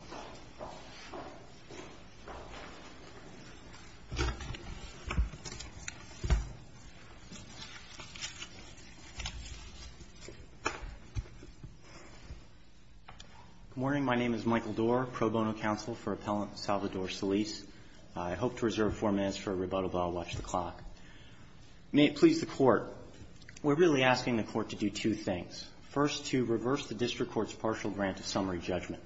Good morning. My name is Michael Doerr, Pro Bono Counsel for Appellant Salvador Solis. I hope to reserve four minutes for a rebuttal, but I'll watch the clock. May it please the Court, we're really asking the Court to do two things. First, to reverse the district court's partial grant of summary judgment.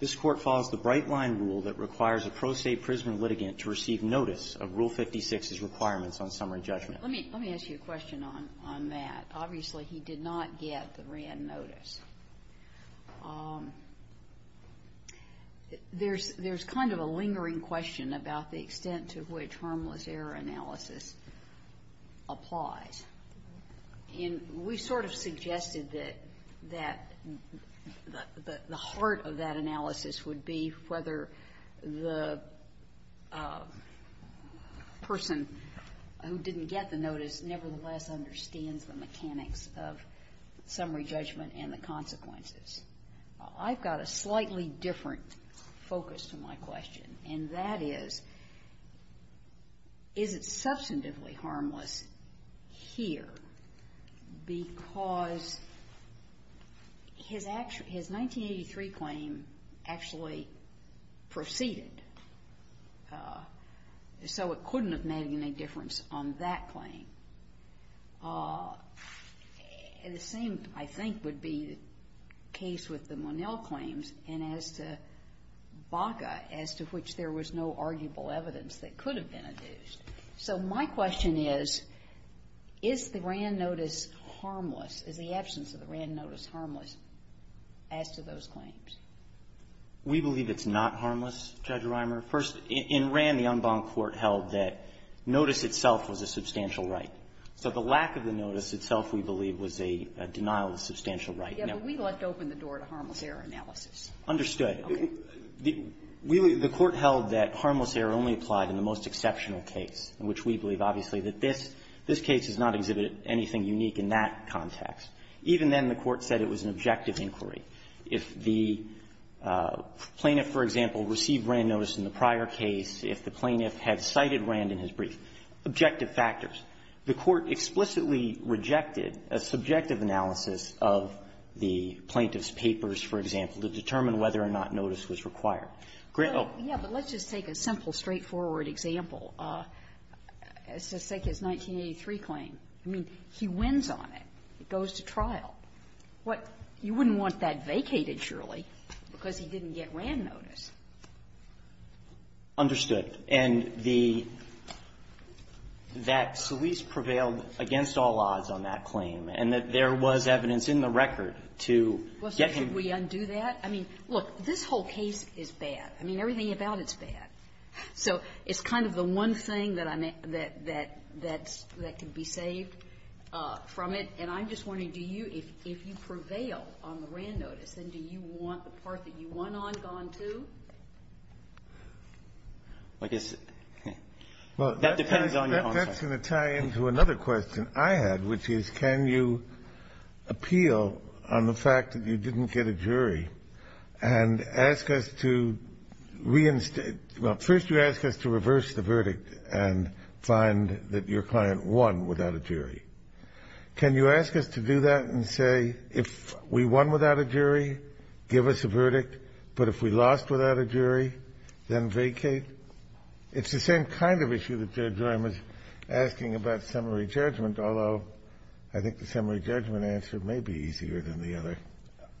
This Court follows the bright-line rule that requires a pro se prisoner litigant to receive notice of Rule 56's requirements on summary judgment. Let me ask you a question on that. Obviously, he did not get the Wran notice. There's kind of a lingering question about the extent to which harmless error analysis applies. And we sort of suggested that the heart of that analysis would be whether the person who didn't get the notice nevertheless understands the mechanics of summary judgment and the consequences. I've got a slightly different focus to my question, and that is, is it substantively harmless here because his 1983 claim actually preceded, so it couldn't have made any difference on that claim? The same, I think, would be the case with the Monell claims and as to Baca, as to which there was no arguable evidence that could have been adduced. So my question is, is the Wran notice harmless? Is the absence of the Wran notice harmless as to those claims? We believe it's not harmless, Judge Reimer. First, in Wran, the en banc court held that notice itself was a substantial right. So the lack of the notice itself, we believe, was a denial of substantial right. Yes, but we left open the door to harmless error analysis. Understood. Okay. The court held that harmless error only applied in the most exceptional case, in which we believe, obviously, that this case has not exhibited anything unique in that context. Even then, the Court said it was an objective inquiry. If the plaintiff, for example, received Wran notice in the prior case, if the plaintiff had cited Wran in his brief, objective factors. The Court explicitly rejected a subjective analysis of the plaintiff's papers, for example, to determine whether or not notice was required. Grant, oh. Yes, but let's just take a simple, straightforward example. Let's just take his 1983 claim. I mean, he wins on it. It goes to trial. What? You wouldn't want that vacated, surely, because he didn't get Wran notice. Understood. And the --"that Solis prevailed against all odds on that claim, and that there was evidence in the record to get him." Did we undo that? I mean, look, this whole case is bad. I mean, everything about it is bad. So it's kind of the one thing that I'm at that can be saved from it. And I'm just wondering, do you, if you prevail on the Wran notice, then do you want the part that you won on gone, too? I guess that depends on your own side. That's going to tie into another question I had, which is, can you appeal on the claim that you get a jury and ask us to reinstate — well, first you ask us to reverse the verdict and find that your client won without a jury. Can you ask us to do that and say, if we won without a jury, give us a verdict, but if we lost without a jury, then vacate? It's the same kind of issue that Judge Ryan was asking about summary judgment, although I think the summary judgment answer may be easier than the other.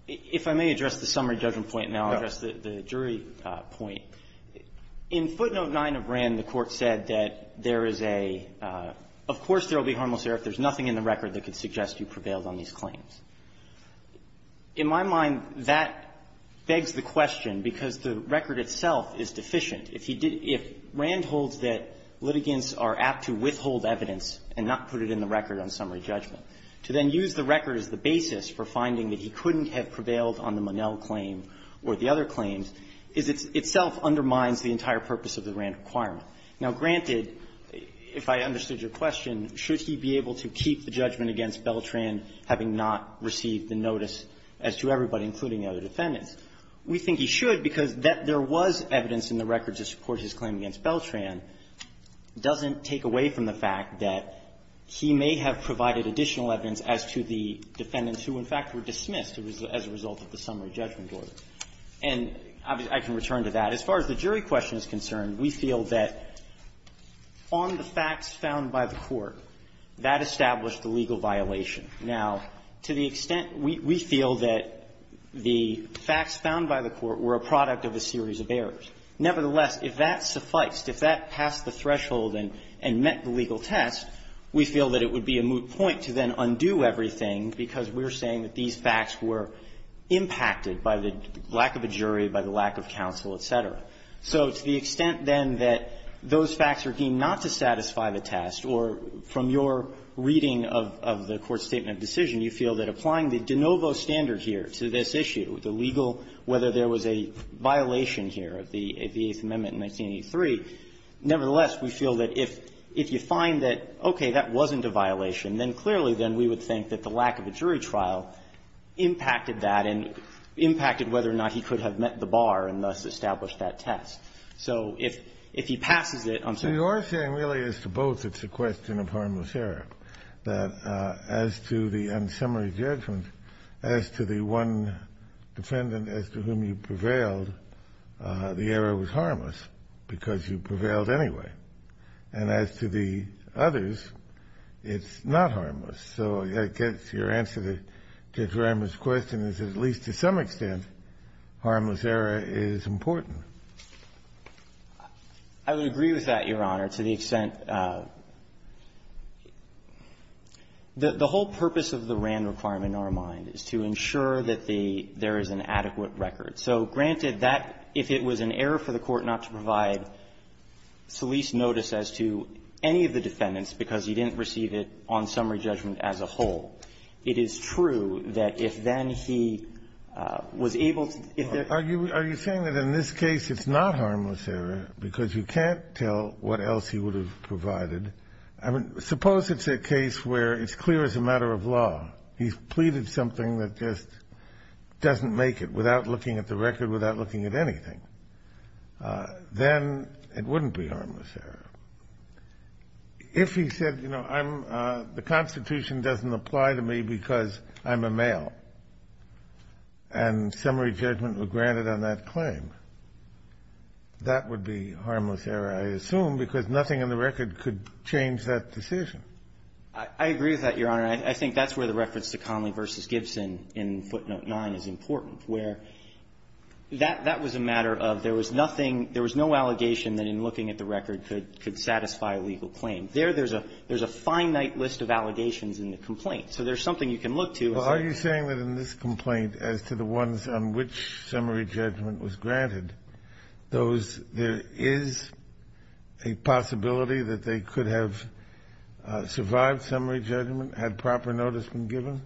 If I may address the summary judgment point, and then I'll address the jury point. In footnote 9 of Wran, the Court said that there is a — of course there will be harmless error if there's nothing in the record that could suggest you prevailed on these claims. In my mind, that begs the question, because the record itself is deficient. If he did — if Wran holds that litigants are apt to withhold evidence and not put it in the record on summary judgment, to then use the record as the basis for finding that he couldn't have prevailed on the Monell claim or the other claims, is it itself undermines the entire purpose of the Wran requirement. Now, granted, if I understood your question, should he be able to keep the judgment against Beltran, having not received the notice as to everybody, including the other defendants? We think he should, because there was evidence in the record to support his claim against Beltran. It doesn't take away from the fact that he may have provided additional evidence as to the defendants who, in fact, were dismissed as a result of the summary judgment board. And I can return to that. As far as the jury question is concerned, we feel that on the facts found by the Court, that established the legal violation. Now, to the extent we feel that the facts found by the Court were a product of a series of errors, nevertheless, if that sufficed, if that passed the threshold and met the requirements, we feel that the Court would not do everything because we're saying that these facts were impacted by the lack of a jury, by the lack of counsel, et cetera. So to the extent, then, that those facts are deemed not to satisfy the test, or from your reading of the Court's statement of decision, you feel that applying the de novo standard here to this issue, the legal, whether there was a violation here of the 18th Amendment in 1983, nevertheless, we feel that if you find that, okay, that wasn't a violation, then clearly, then, we would think that the lack of a jury trial impacted that and impacted whether or not he could have met the bar and thus established that test. So if he passes it on to the court. Kennedy, Your saying really is to both it's a question of harmless error, that as to the unsummary judgment, as to the one defendant as to whom you prevailed, the error was harmless because you prevailed anyway. And as to the others, it's not harmless. So I guess your answer to Drama's question is at least to some extent, harmless error is important. I would agree with that, Your Honor, to the extent that the whole purpose of the RAND requirement in our mind is to ensure that the – there is an adequate record. So, granted, that – if it was an error for the court not to provide Solis notice as to any of the defendants because he didn't receive it on summary judgment as a whole, it is true that if then he was able to – if there – Are you saying that in this case, it's not harmless error because you can't tell what else he would have provided? I mean, suppose it's a case where it's clear as a matter of law. He's pleaded something that just doesn't make it without looking at the record, without looking at anything. Then it wouldn't be harmless error. If he said, you know, I'm – the Constitution doesn't apply to me because I'm a male and summary judgment were granted on that claim, that would be harmless error, I assume, because nothing in the record could change that decision. I agree with that, Your Honor. I think that's where the reference to Conley v. Gibson in footnote 9 is important, where that was a matter of there was nothing – there was no allegation that in looking at the record could satisfy a legal claim. There, there's a finite list of allegations in the complaint. So there's something you can look to. Well, are you saying that in this complaint as to the ones on which summary judgment was granted, those – there is a possibility that they could have survived summary judgment, had proper notice been given?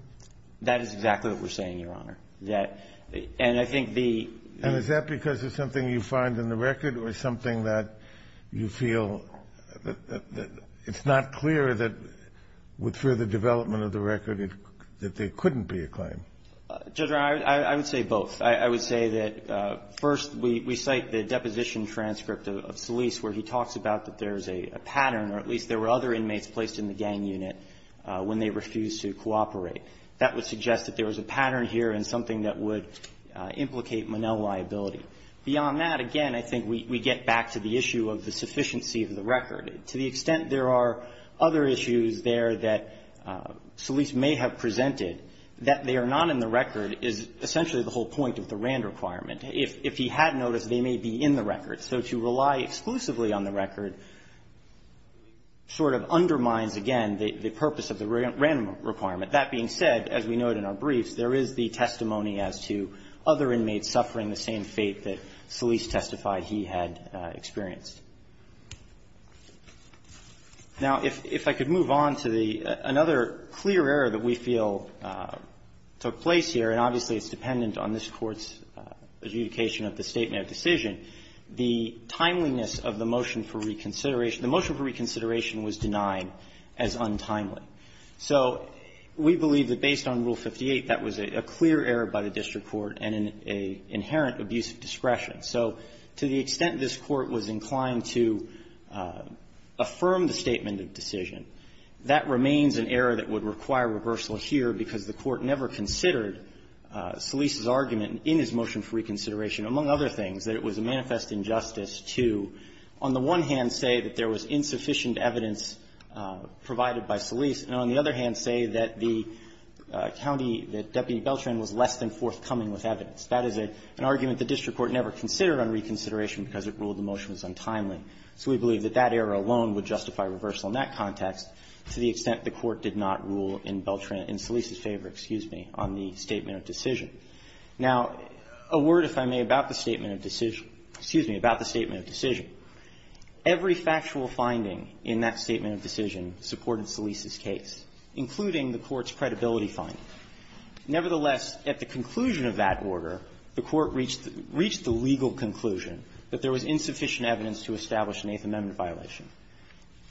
That is exactly what we're saying, Your Honor. That – and I think the – And is that because it's something you find in the record or something that you feel that – it's not clear that with further development of the record that there couldn't be a claim? Judge, I would say both. I would say that, first, we cite the deposition transcript of Solis where he talks about that there is a pattern, or at least there were other inmates placed in the gang unit when they refused to cooperate. That would suggest that there was a pattern here and something that would implicate Monell liability. Beyond that, again, I think we get back to the issue of the sufficiency of the record. To the extent there are other issues there that Solis may have presented, that they are not in the record is essentially the whole point of the Rand requirement. If he had notice, they may be in the record. So to rely exclusively on the record sort of undermines, again, the purpose of the Rand requirement. That being said, as we note in our briefs, there is the testimony as to other inmates suffering the same fate that Solis testified he had experienced. Now, if I could move on to another clear error that we feel took place here, and obviously, it's dependent on this Court's adjudication of the statement of decision, the timeliness of the motion for reconsideration was denied as untimely. So we believe that based on Rule 58, that was a clear error by the district court and an inherent abuse of discretion. So to the extent this Court was inclined to affirm the statement of decision, that remains an error that would require reversal here because the Court never considered Solis's argument in his motion for reconsideration, among other things, that it was a manifest injustice to, on the one hand, say that there was insufficient evidence provided by Solis, and on the other hand, say that the county, that Deputy Beltran was less than forthcoming with evidence. That is an argument the district court never considered on reconsideration because it ruled the motion was untimely. So we believe that that error alone would justify reversal in that context, to the extent the Court did not rule in Beltran's, in Solis's favor, excuse me, on the statement of decision. Now, a word, if I may, about the statement of decision. Excuse me. About the statement of decision. Every factual finding in that statement of decision supported Solis's case, including the Court's credibility finding. Nevertheless, at the conclusion of that order, the Court reached the legal conclusion that there was insufficient evidence to establish an Eighth Amendment violation.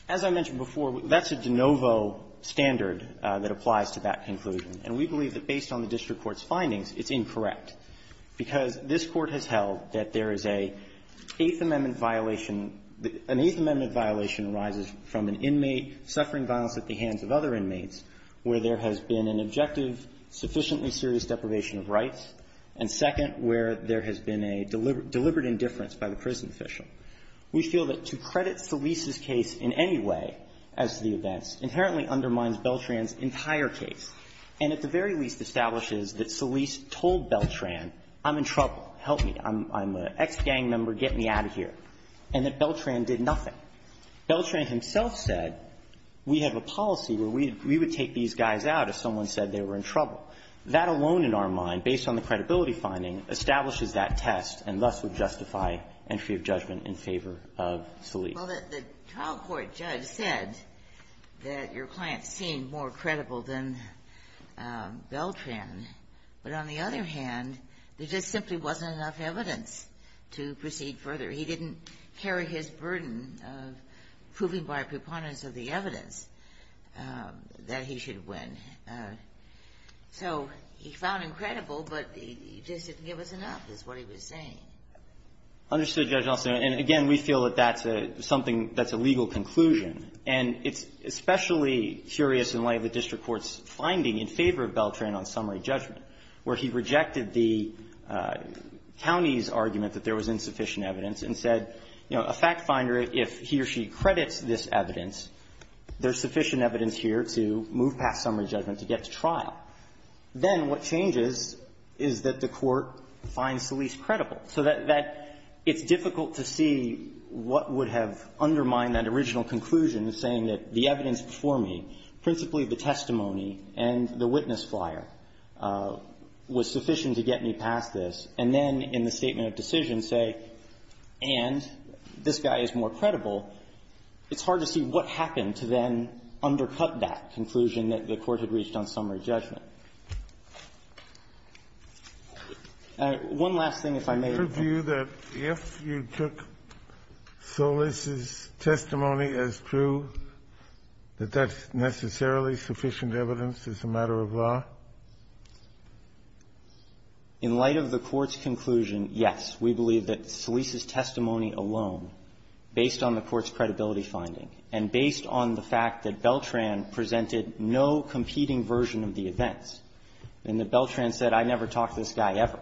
As I mentioned before, that's a de novo standard that applies to that conclusion. And we believe that based on the district court's findings, it's incorrect, because this Court has held that there is a Eighth Amendment violation. An Eighth Amendment violation arises from an inmate suffering violence at the hands of other inmates where there has been an objective, sufficiently serious deprivation of rights, and second, where there has been a deliberate indifference by the prison official. We feel that to credit Solis's case in any way as to the events inherently undermines Beltran's entire case, and at the very least establishes that Solis told Beltran, I'm in trouble, help me, I'm an ex-gang member, get me out of here, and that Beltran did nothing. Beltran himself said, we have a policy where we would take these guys out if someone said they were in trouble. That alone in our mind, based on the credibility finding, establishes that test and thus would justify entry of judgment in favor of Solis. Well, the trial court judge said that your client seemed more credible than Beltran. But on the other hand, there just simply wasn't enough evidence to proceed further. He didn't carry his burden of proving by preponderance of the evidence that he should win. So he found him credible, but he just didn't give us enough, is what he was saying. Understood, Judge Alston. And again, we feel that that's a something that's a legal conclusion. And it's especially curious in light of the district court's finding in favor of Beltran on summary judgment, where he rejected the county's argument that there was insufficient evidence and said, you know, a fact-finder, if he or she credits this evidence, there's sufficient evidence here to move past summary judgment to get to trial. Then what changes is that the court finds Solis credible. So that it's difficult to see what would have undermined that original conclusion of saying that the evidence before me, principally the testimony and the witness flyer, was sufficient to get me past this. And then in the statement of decision say, and this guy is more credible, it's hard to see what happened to then undercut that conclusion that the court had reached on summary judgment. And one last thing, if I may. Kennedy, that if you took Solis' testimony as true, that that's necessarily sufficient evidence as a matter of law? In light of the Court's conclusion, yes. We believe that Solis' testimony alone, based on the Court's credibility finding and based on the fact that Beltran presented no competing version of the events, and that Beltran said, I never talked to this guy ever,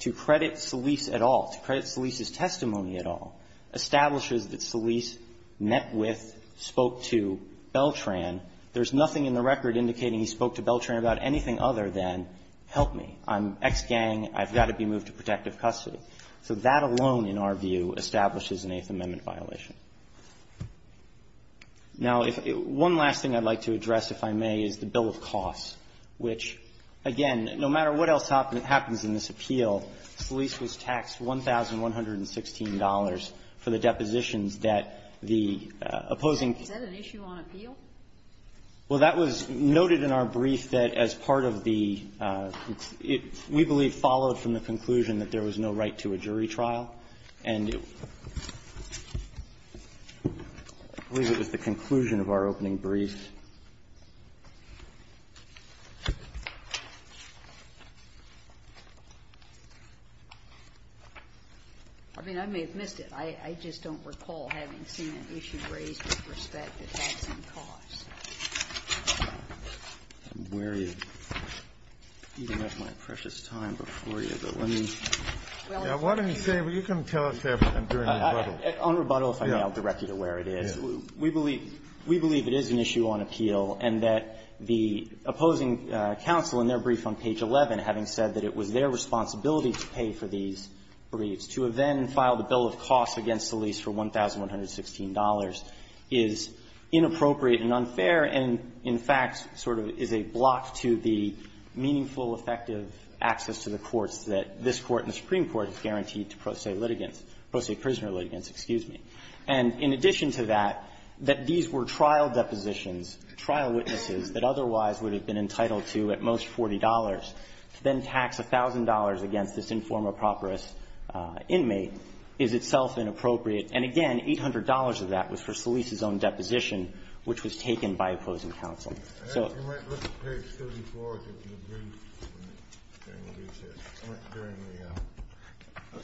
to credit Solis at all, to credit Solis' testimony at all, establishes that Solis met with, spoke to Beltran. There's nothing in the record indicating he spoke to Beltran about anything other than, help me, I'm ex-gang, I've got to be moved to protective custody. So that alone, in our view, establishes an Eighth Amendment violation. Now, if one last thing I'd like to address, if I may, is the bill of costs, which, again, no matter what else happens in this appeal, Solis was taxed $1,116 for the depositions that the opposing ---- Is that an issue on appeal? Well, that was noted in our brief that as part of the we believe followed from the conclusion that there was no right to a jury trial. And I believe it was the conclusion of our opening brief. I mean, I may have missed it. I just don't recall having seen an issue raised with respect to taxing costs. I'm wary of eating up my precious time before you, but let me ---- I wanted to say, but you can tell us if I'm doing a rebuttal. On rebuttal, if I may, I'll direct you to where it is. We believe it is an issue on appeal, and that the opposing counsel in their brief on page 11, having said that it was their responsibility to pay for these briefs, to have then filed a bill of costs against Solis for $1,116 is inappropriate and unfair and, in fact, sort of is a block to the meaningful, effective access to the courts that this Court and the Supreme Court has guaranteed to pro se litigants ---- pro se prisoner litigants, excuse me. And in addition to that, that these were trial depositions, trial witnesses that otherwise would have been entitled to at most $40, to then tax $1,000 against this informer properous inmate is itself inappropriate. And again, $800 of that was for Solis's own deposition, which was taken by opposing counsel. So ---- You might look at page 34, if you agree with what he said, during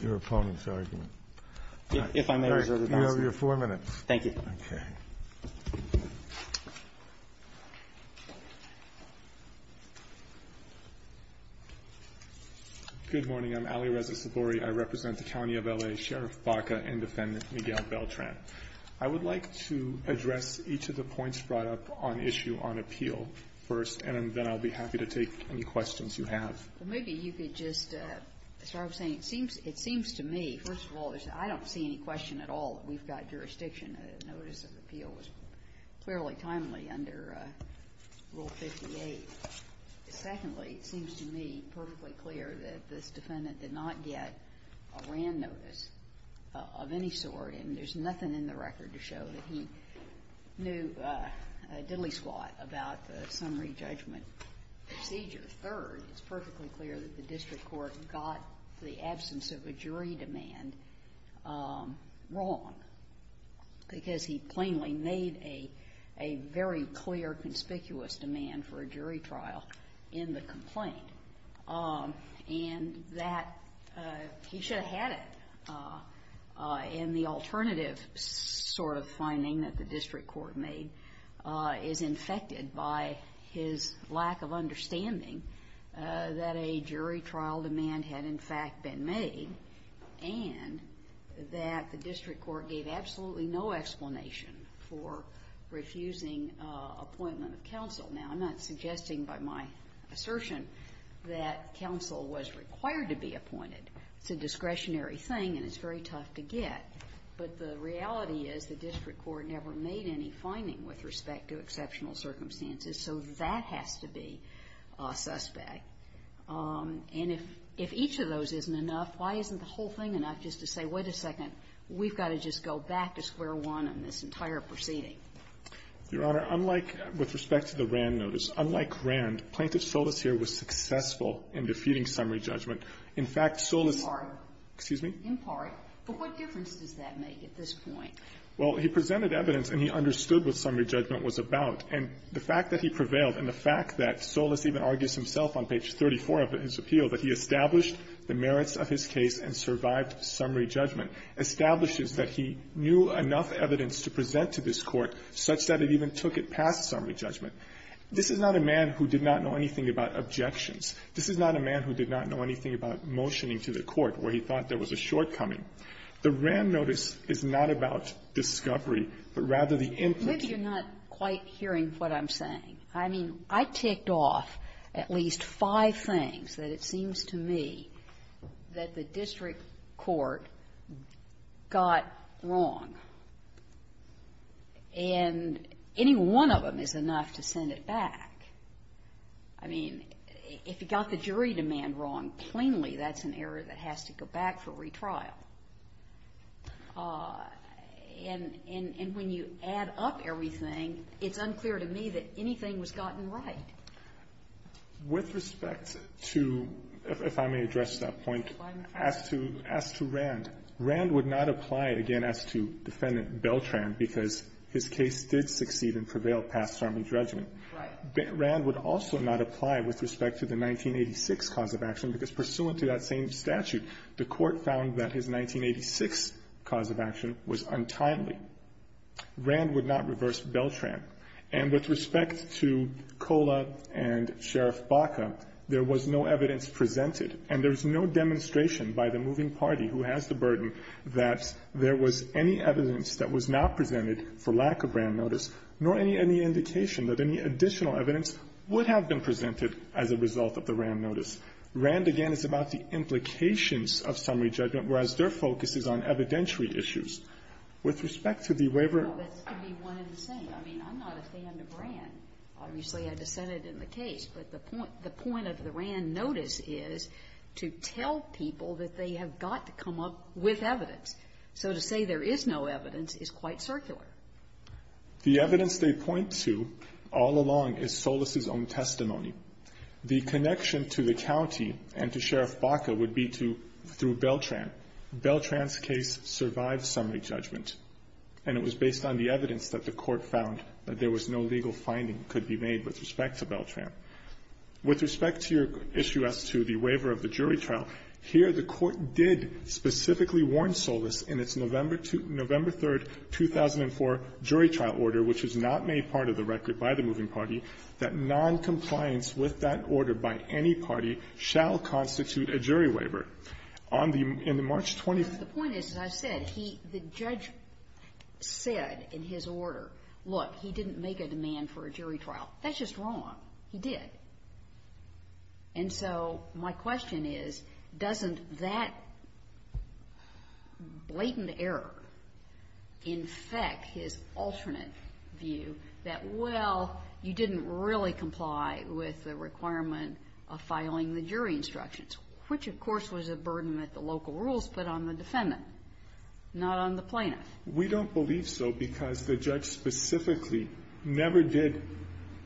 your opponent's argument. If I may reserve your time, sir. You have your 4 minutes. Thank you. Okay. Good morning. I'm Ali Reza Sabori. I represent the County of L.A. Sheriff Baca and Defendant Miguel Beltran. I would like to address each of the points brought up on issue on appeal first, and then I'll be happy to take any questions you have. Maybe you could just start saying, it seems to me, first of all, I don't see any question at all that we've got jurisdiction. The notice of appeal was clearly timely under Rule 58. Secondly, it seems to me perfectly clear that this defendant did not get a RAND notice of any sort. And there's nothing in the record to show that he knew a diddly-squat about the summary judgment procedure. Third, it's perfectly clear that the district court got the absence of a jury demand wrong, because he plainly made a very clear conspicuous demand for a jury trial in the complaint. And that he should have had it. And the alternative sort of finding that the district court made is infected by his lack of understanding that a jury trial demand had, in fact, been made, and that the district court gave absolutely no explanation for refusing appointment of counsel. Now, I'm not suggesting by my assertion that counsel was required to be appointed. It's a discretionary thing, and it's very tough to get. But the reality is the district court never made any finding with respect to exceptional circumstances. So that has to be a suspect. And if each of those isn't enough, why isn't the whole thing enough just to say, wait a second, we've got to just go back to square one on this entire proceeding? Your Honor, unlike with respect to the Rand notice, unlike Rand, Plaintiff Solis here was successful in defeating summary judgment. In fact, Solis ---- In part. Excuse me? In part. But what difference does that make at this point? Well, he presented evidence, and he understood what summary judgment was about. And the fact that he prevailed and the fact that Solis even argues himself on page 34 of his appeal that he established the merits of his case and survived summary judgment establishes that he knew enough evidence to present to this Court such that it even took it past summary judgment. This is not a man who did not know anything about objections. This is not a man who did not know anything about motioning to the Court where he thought there was a shortcoming. The Rand notice is not about discovery, but rather the input ---- Maybe you're not quite hearing what I'm saying. I mean, I ticked off at least five things that it seems to me that the district court got wrong, and any one of them is enough to send it back. I mean, if you got the jury demand wrong plainly, that's an error that has to go back for retrial. And when you add up everything, it's unclear to me that anything was gotten right. With respect to, if I may address that point, as to Rand, Rand would not apply, again, as to Defendant Beltran, because his case did succeed and prevail past summary judgment. Right. Rand would also not apply with respect to the 1986 cause of action, because pursuant to that same statute, the Court found that his 1986 cause of action was untimely. Rand would not reverse Beltran. And with respect to Kola and Sheriff Baca, there was no evidence presented, and there's no demonstration by the moving party who has the burden that there was any evidence that was not presented for lack of Rand notice, nor any indication that any additional evidence would have been presented as a result of the Rand notice. Rand, again, is about the implications of summary judgment, whereas their focus is on evidentiary issues. With respect to the waiver of the case, the point of the Rand notice is to tell people that they have got to come up with evidence. So to say there is no evidence is quite circular. The evidence they point to all along is Solis's own testimony. The connection to the county and to Sheriff Baca would be through Beltran. Beltran's case survived summary judgment, and it was based on the evidence that the Court found that there was no legal finding that could be made with respect to Beltran. With respect to your issue as to the waiver of the jury trial, here the Court did specifically warn Solis in its November 3, 2004 jury trial order, which was not made part of the record by the moving party, that noncompliance with that order by any party shall constitute a jury waiver. On the March 20th the point is, as I said, the judge said in his order, look, he didn't make a demand for a jury trial. That's just wrong. He did. And so my question is, doesn't that blatant error infect his alternate view that well, you didn't really comply with the requirement of filing the jury instructions, which of course was a burden that the local rules put on the defendant, not on the plaintiff? We don't believe so because the judge specifically never did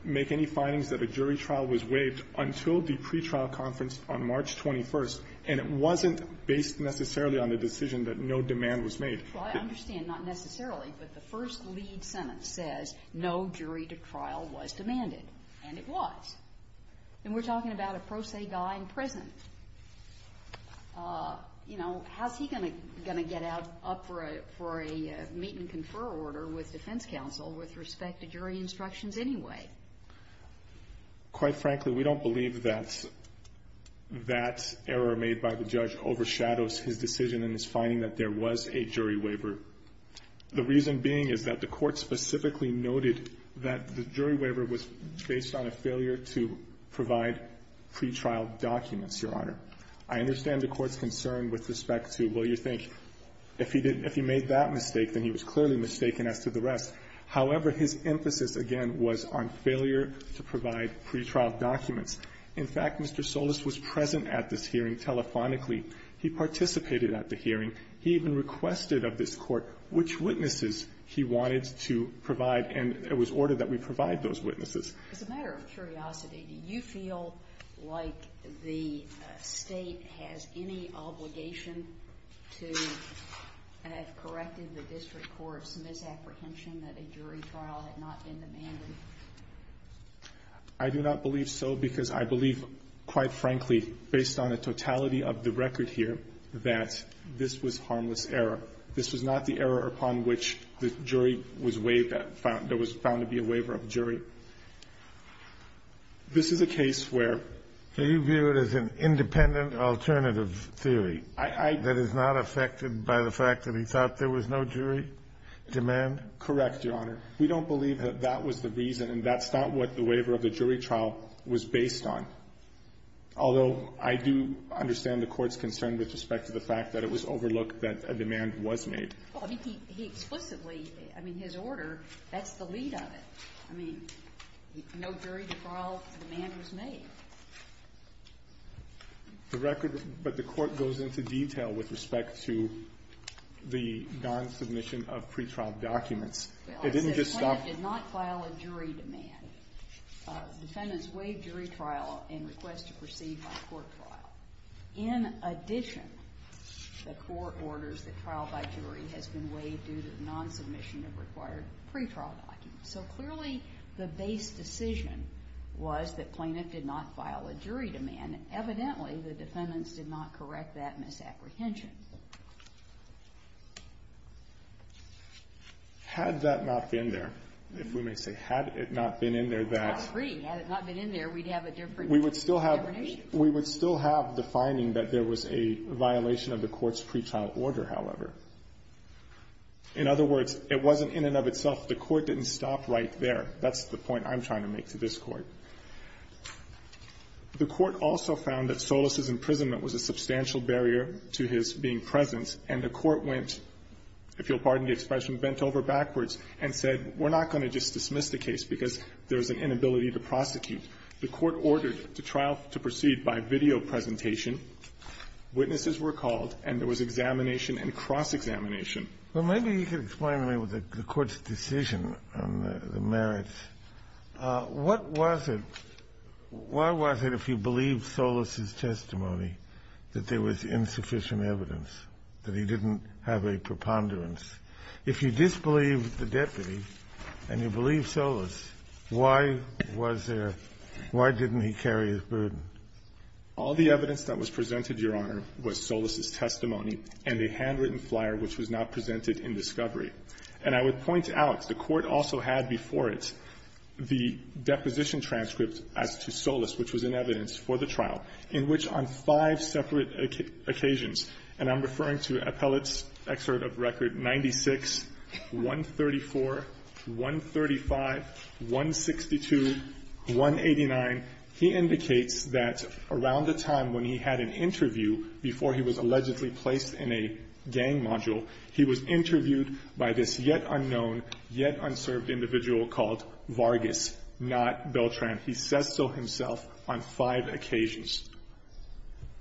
make any findings that a jury trial was waived until the pretrial conference on March 21st, and it wasn't based necessarily on the decision that no demand was made. Well, I understand not necessarily, but the first lead sentence says no jury trial was demanded, and it was. And we're talking about a pro se guy in prison. You know, how's he going to get up for a meet-and-confer order with defense counsel with respect to jury instructions anyway? Quite frankly, we don't believe that that error made by the judge overshadows his decision in his finding that there was a jury waiver, the reason being is that the Court specifically noted that the jury waiver was based on a failure to provide pretrial documents, Your Honor. I understand the Court's concern with respect to, well, you think if he did ‑‑ if he made that mistake, then he was clearly mistaken as to the rest. However, his emphasis, again, was on failure to provide pretrial documents. In fact, Mr. Solis was present at this hearing telephonically. He participated at the hearing. He even requested of this Court which witnesses he wanted to provide, and it was ordered that we provide those witnesses. As a matter of curiosity, do you feel like the State has any obligation to have corrected the district court's misapprehension that a jury trial had not been demanded? I do not believe so, because I believe, quite frankly, based on a totality of the record here, that this was harmless error. This was not the error upon which the jury was waived that found ‑‑ that was found to be a waiver of jury. This is a case where ‑‑ Do you view it as an independent alternative theory that is not affected by the fact that he thought there was no jury demand? Correct, Your Honor. We don't believe that that was the reason, and that's not what the waiver of the jury trial was based on. Although I do understand the Court's concern with respect to the fact that it was overlooked that a demand was made. Well, I mean, he explicitly ‑‑ I mean, his order, that's the lead of it. I mean, no jury trial demand was made. The record ‑‑ but the Court goes into detail with respect to the non-submission of pretrial documents. It didn't just stop ‑‑ Well, I said the plaintiff did not file a jury demand. Defendants waive jury trial and request to proceed by court trial. In addition, the court orders that trial by jury has been waived due to the non-submission of required pretrial documents. So clearly the base decision was that plaintiff did not file a jury demand. Evidently, the defendants did not correct that misapprehension. Had that not been there, if we may say, had it not been in there, that ‑‑ I agree. Had it not been in there, we'd have a different definition. We would still have the finding that there was a violation of the Court's pretrial order, however. In other words, it wasn't in and of itself the Court didn't stop right there. That's the point I'm trying to make to this Court. The Court also found that Solis' imprisonment was a substantial barrier to his being present, and the Court went, if you'll pardon the expression, bent over backwards and said, we're not going to just dismiss the case because there's an inability to prosecute. The Court ordered the trial to proceed by video presentation. Witnesses were called, and there was examination and cross-examination. Well, maybe you could explain to me what the Court's decision on the merits. What was it ‑‑ why was it, if you believe Solis' testimony, that there was insufficient evidence, that he didn't have a preponderance? If you disbelieve the deputy and you believe Solis, why was there ‑‑ why didn't he carry his burden? All the evidence that was presented, Your Honor, was Solis' testimony and a handwritten flyer which was not presented in discovery. And I would point out, the Court also had before it the deposition transcript as to Solis, which was in evidence for the trial, in which on five separate occasions ‑‑ and I'm referring to Appellate's excerpt of record 96, 134, 135, 162, 189, he indicates that around the time when he had an interview before he was allegedly placed in a gang module, he was interviewed by a group of people who were involved by this yet unknown, yet unserved individual called Vargas, not Beltran. He says so himself on five occasions.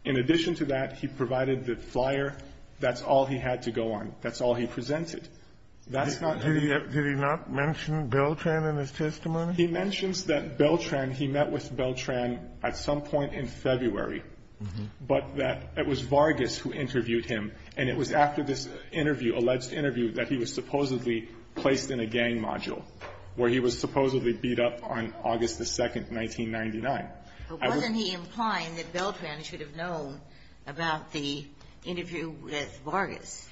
In addition to that, he provided the flyer. That's all he had to go on. That's all he presented. That's not ‑‑ Did he not mention Beltran in his testimony? He mentions that Beltran ‑‑ he met with Beltran at some point in February, but that it was Vargas who interviewed him. And it was after this interview, alleged interview, that he was supposedly placed in a gang module, where he was supposedly beat up on August the 2nd, 1999. But wasn't he implying that Beltran should have known about the interview with Vargas?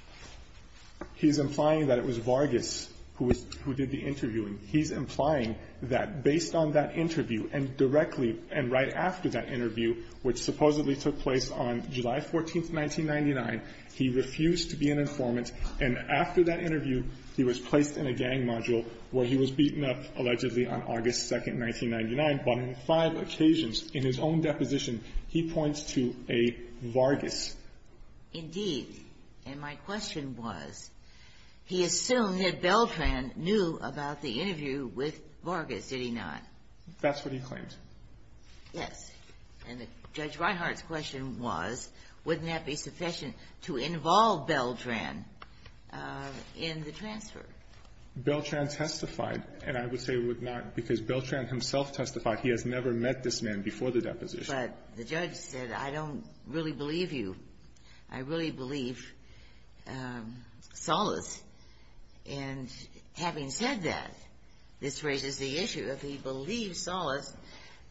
He's implying that it was Vargas who did the interviewing. He's implying that based on that interview and directly and right after that interview, which supposedly took place on July 14th, 1999, he refused to be an informant. And after that interview, he was placed in a gang module, where he was beaten up, allegedly, on August 2nd, 1999. But on five occasions, in his own deposition, he points to a Vargas. Indeed. And my question was, he assumed that Beltran knew about the interview with Vargas. Did he not? That's what he claimed. Yes. And Judge Reinhart's question was, wouldn't that be sufficient to involve Beltran in the transfer? Beltran testified, and I would say would not, because Beltran himself testified he has never met this man before the deposition. But the judge said, I don't really believe you. I really believe Solis. And having said that, this raises the issue of he believes Solis.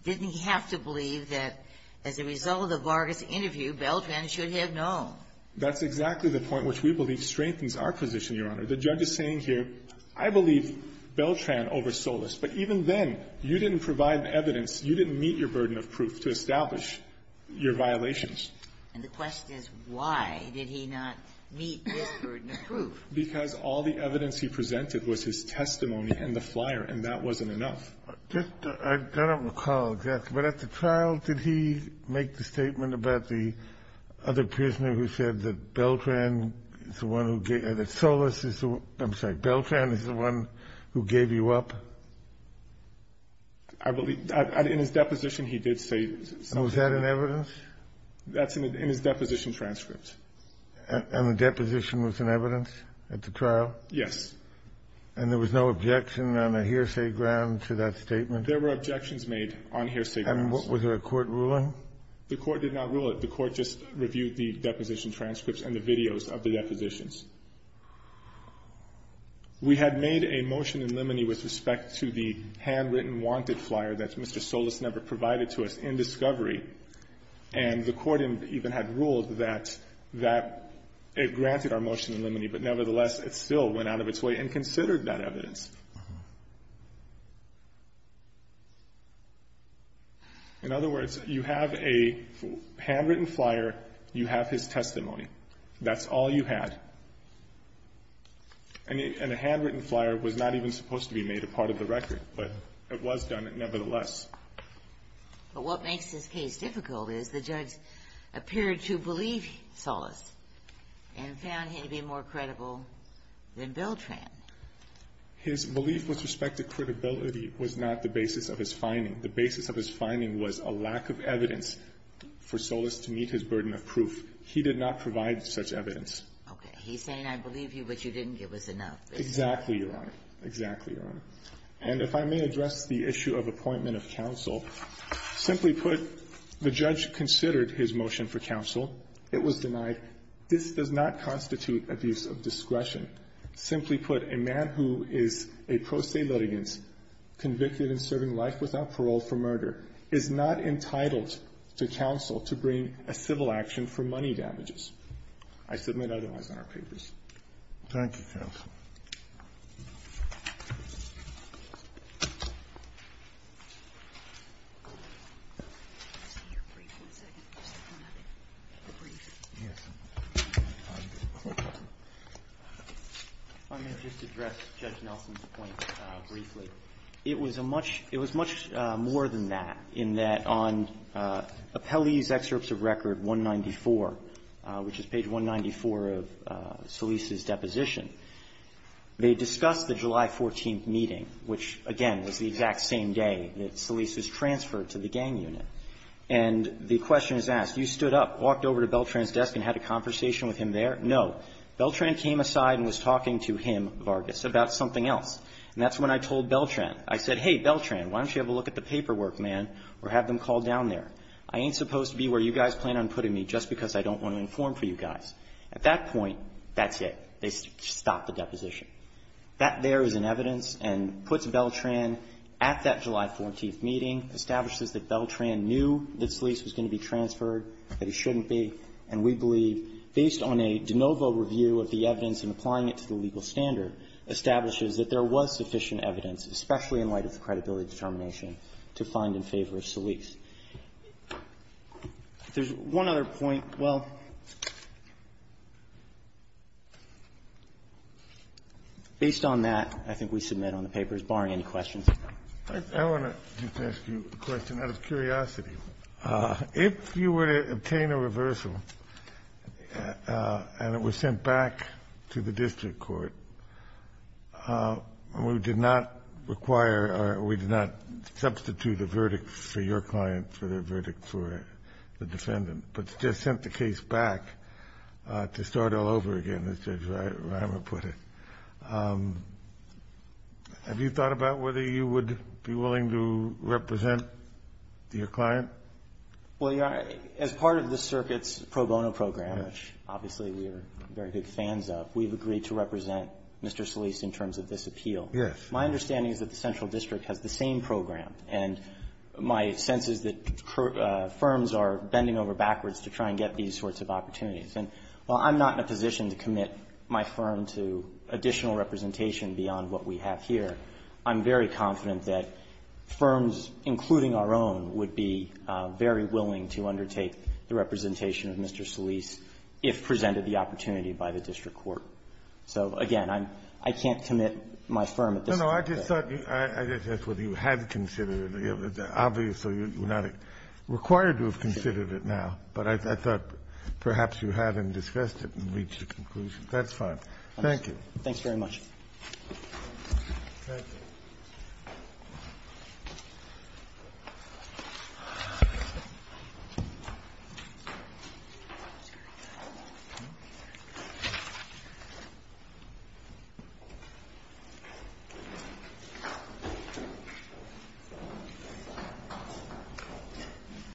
Didn't he have to believe that as a result of the Vargas interview, Beltran should have known? That's exactly the point which we believe strengthens our position, Your Honor. The judge is saying here, I believe Beltran over Solis. But even then, you didn't provide evidence, you didn't meet your burden of proof to establish your violations. And the question is, why did he not meet this burden of proof? Because all the evidence he presented was his testimony and the flyer, and that wasn't enough. I don't recall exactly, but at the trial, did he make the statement about the other prisoner who said that Beltran is the one who gave you up, that Solis is the one, I'm sorry, Beltran is the one who gave you up? I believe, in his deposition, he did say something. And was that in evidence? That's in his deposition transcript. And the deposition was in evidence at the trial? Yes. And there was no objection on a hearsay grounds to that statement? There were objections made on hearsay grounds. And was there a court ruling? The court did not rule it. The court just reviewed the deposition transcripts and the videos of the depositions. We had made a motion in limine with respect to the handwritten wanted flyer that Mr. Solis never provided to us in discovery, and the court even had ruled that it granted our motion in limine, but nevertheless, it still went out of its way and considered that evidence. In other words, you have a handwritten flyer, you have his testimony. That's all you had. And a handwritten flyer was not even supposed to be made a part of the record, but it was done nevertheless. But what makes this case difficult is the judge appeared to believe Solis and found him to be more credible than Beltran. His belief with respect to credibility was not the basis of his finding. The basis of his finding was a lack of evidence for Solis to meet his burden of proof. He did not provide such evidence. Okay. He's saying, I believe you, but you didn't give us enough. Exactly, Your Honor. Exactly, Your Honor. And if I may address the issue of appointment of counsel, simply put, the judge considered his motion for counsel. It was denied. This does not constitute abuse of discretion. Simply put, a man who is a pro se litigant, convicted in serving life without parole for murder, is not entitled to counsel to bring a civil action for money damages. I submit otherwise in our papers. Thank you, counsel. I'm going to just address Judge Nelson's point briefly. It was a much, it was much more than that, in that on Appellee's Excerpts of Record 194, which is page 194 of Solis's deposition, they discussed the July 14th meeting, which, again, was the exact same day that Solis was transferred to the gang unit. And the question is asked, you stood up, walked over to Beltran's desk and had a conversation with him there? No. Beltran came aside and was talking to him, Vargas, about something else. And that's when I told Beltran. I said, hey, Beltran, why don't you have a look at the paperwork, man, or have them call down there? I ain't supposed to be where you guys plan on putting me just because I don't want to inform for you guys. At that point, that's it. They stopped the deposition. That there is in evidence and puts Beltran at that July 14th meeting, establishes that Beltran knew that Solis was going to be transferred, that he shouldn't be, and we believe, based on a de novo review of the evidence and applying it to the legal standard, establishes that there was sufficient evidence, especially in light of the credibility determination, to find in favor of Solis. There's one other point. Well, based on that, I think we submit on the papers, barring any questions. I want to just ask you a question out of curiosity. If you were to obtain a reversal and it was sent back to the district court, we did not require or we did not substitute a verdict for your client for the verdict for the defendant, but just sent the case back to start all over again, as Judge Reimer put it. Have you thought about whether you would be willing to represent your client? Well, as part of the circuit's pro bono program, which obviously we are very good fans of, we've agreed to represent Mr. Solis in terms of this appeal. Yes. My understanding is that the central district has the same program, and my sense is that firms are bending over backwards to try and get these sorts of opportunities. And while I'm not in a position to commit my firm to additional representation beyond what we have here, I'm very confident that firms, including our own, would be very willing to undertake the representation of Mr. Solis if presented the opportunity by the district court. So, again, I'm – I can't commit my firm at this point. No, I just thought you – I just asked whether you had considered it. Obviously, you're not required to have considered it now, but I thought perhaps you had and discussed it and reached a conclusion. That's fine. Thank you. Thanks very much. Thank you.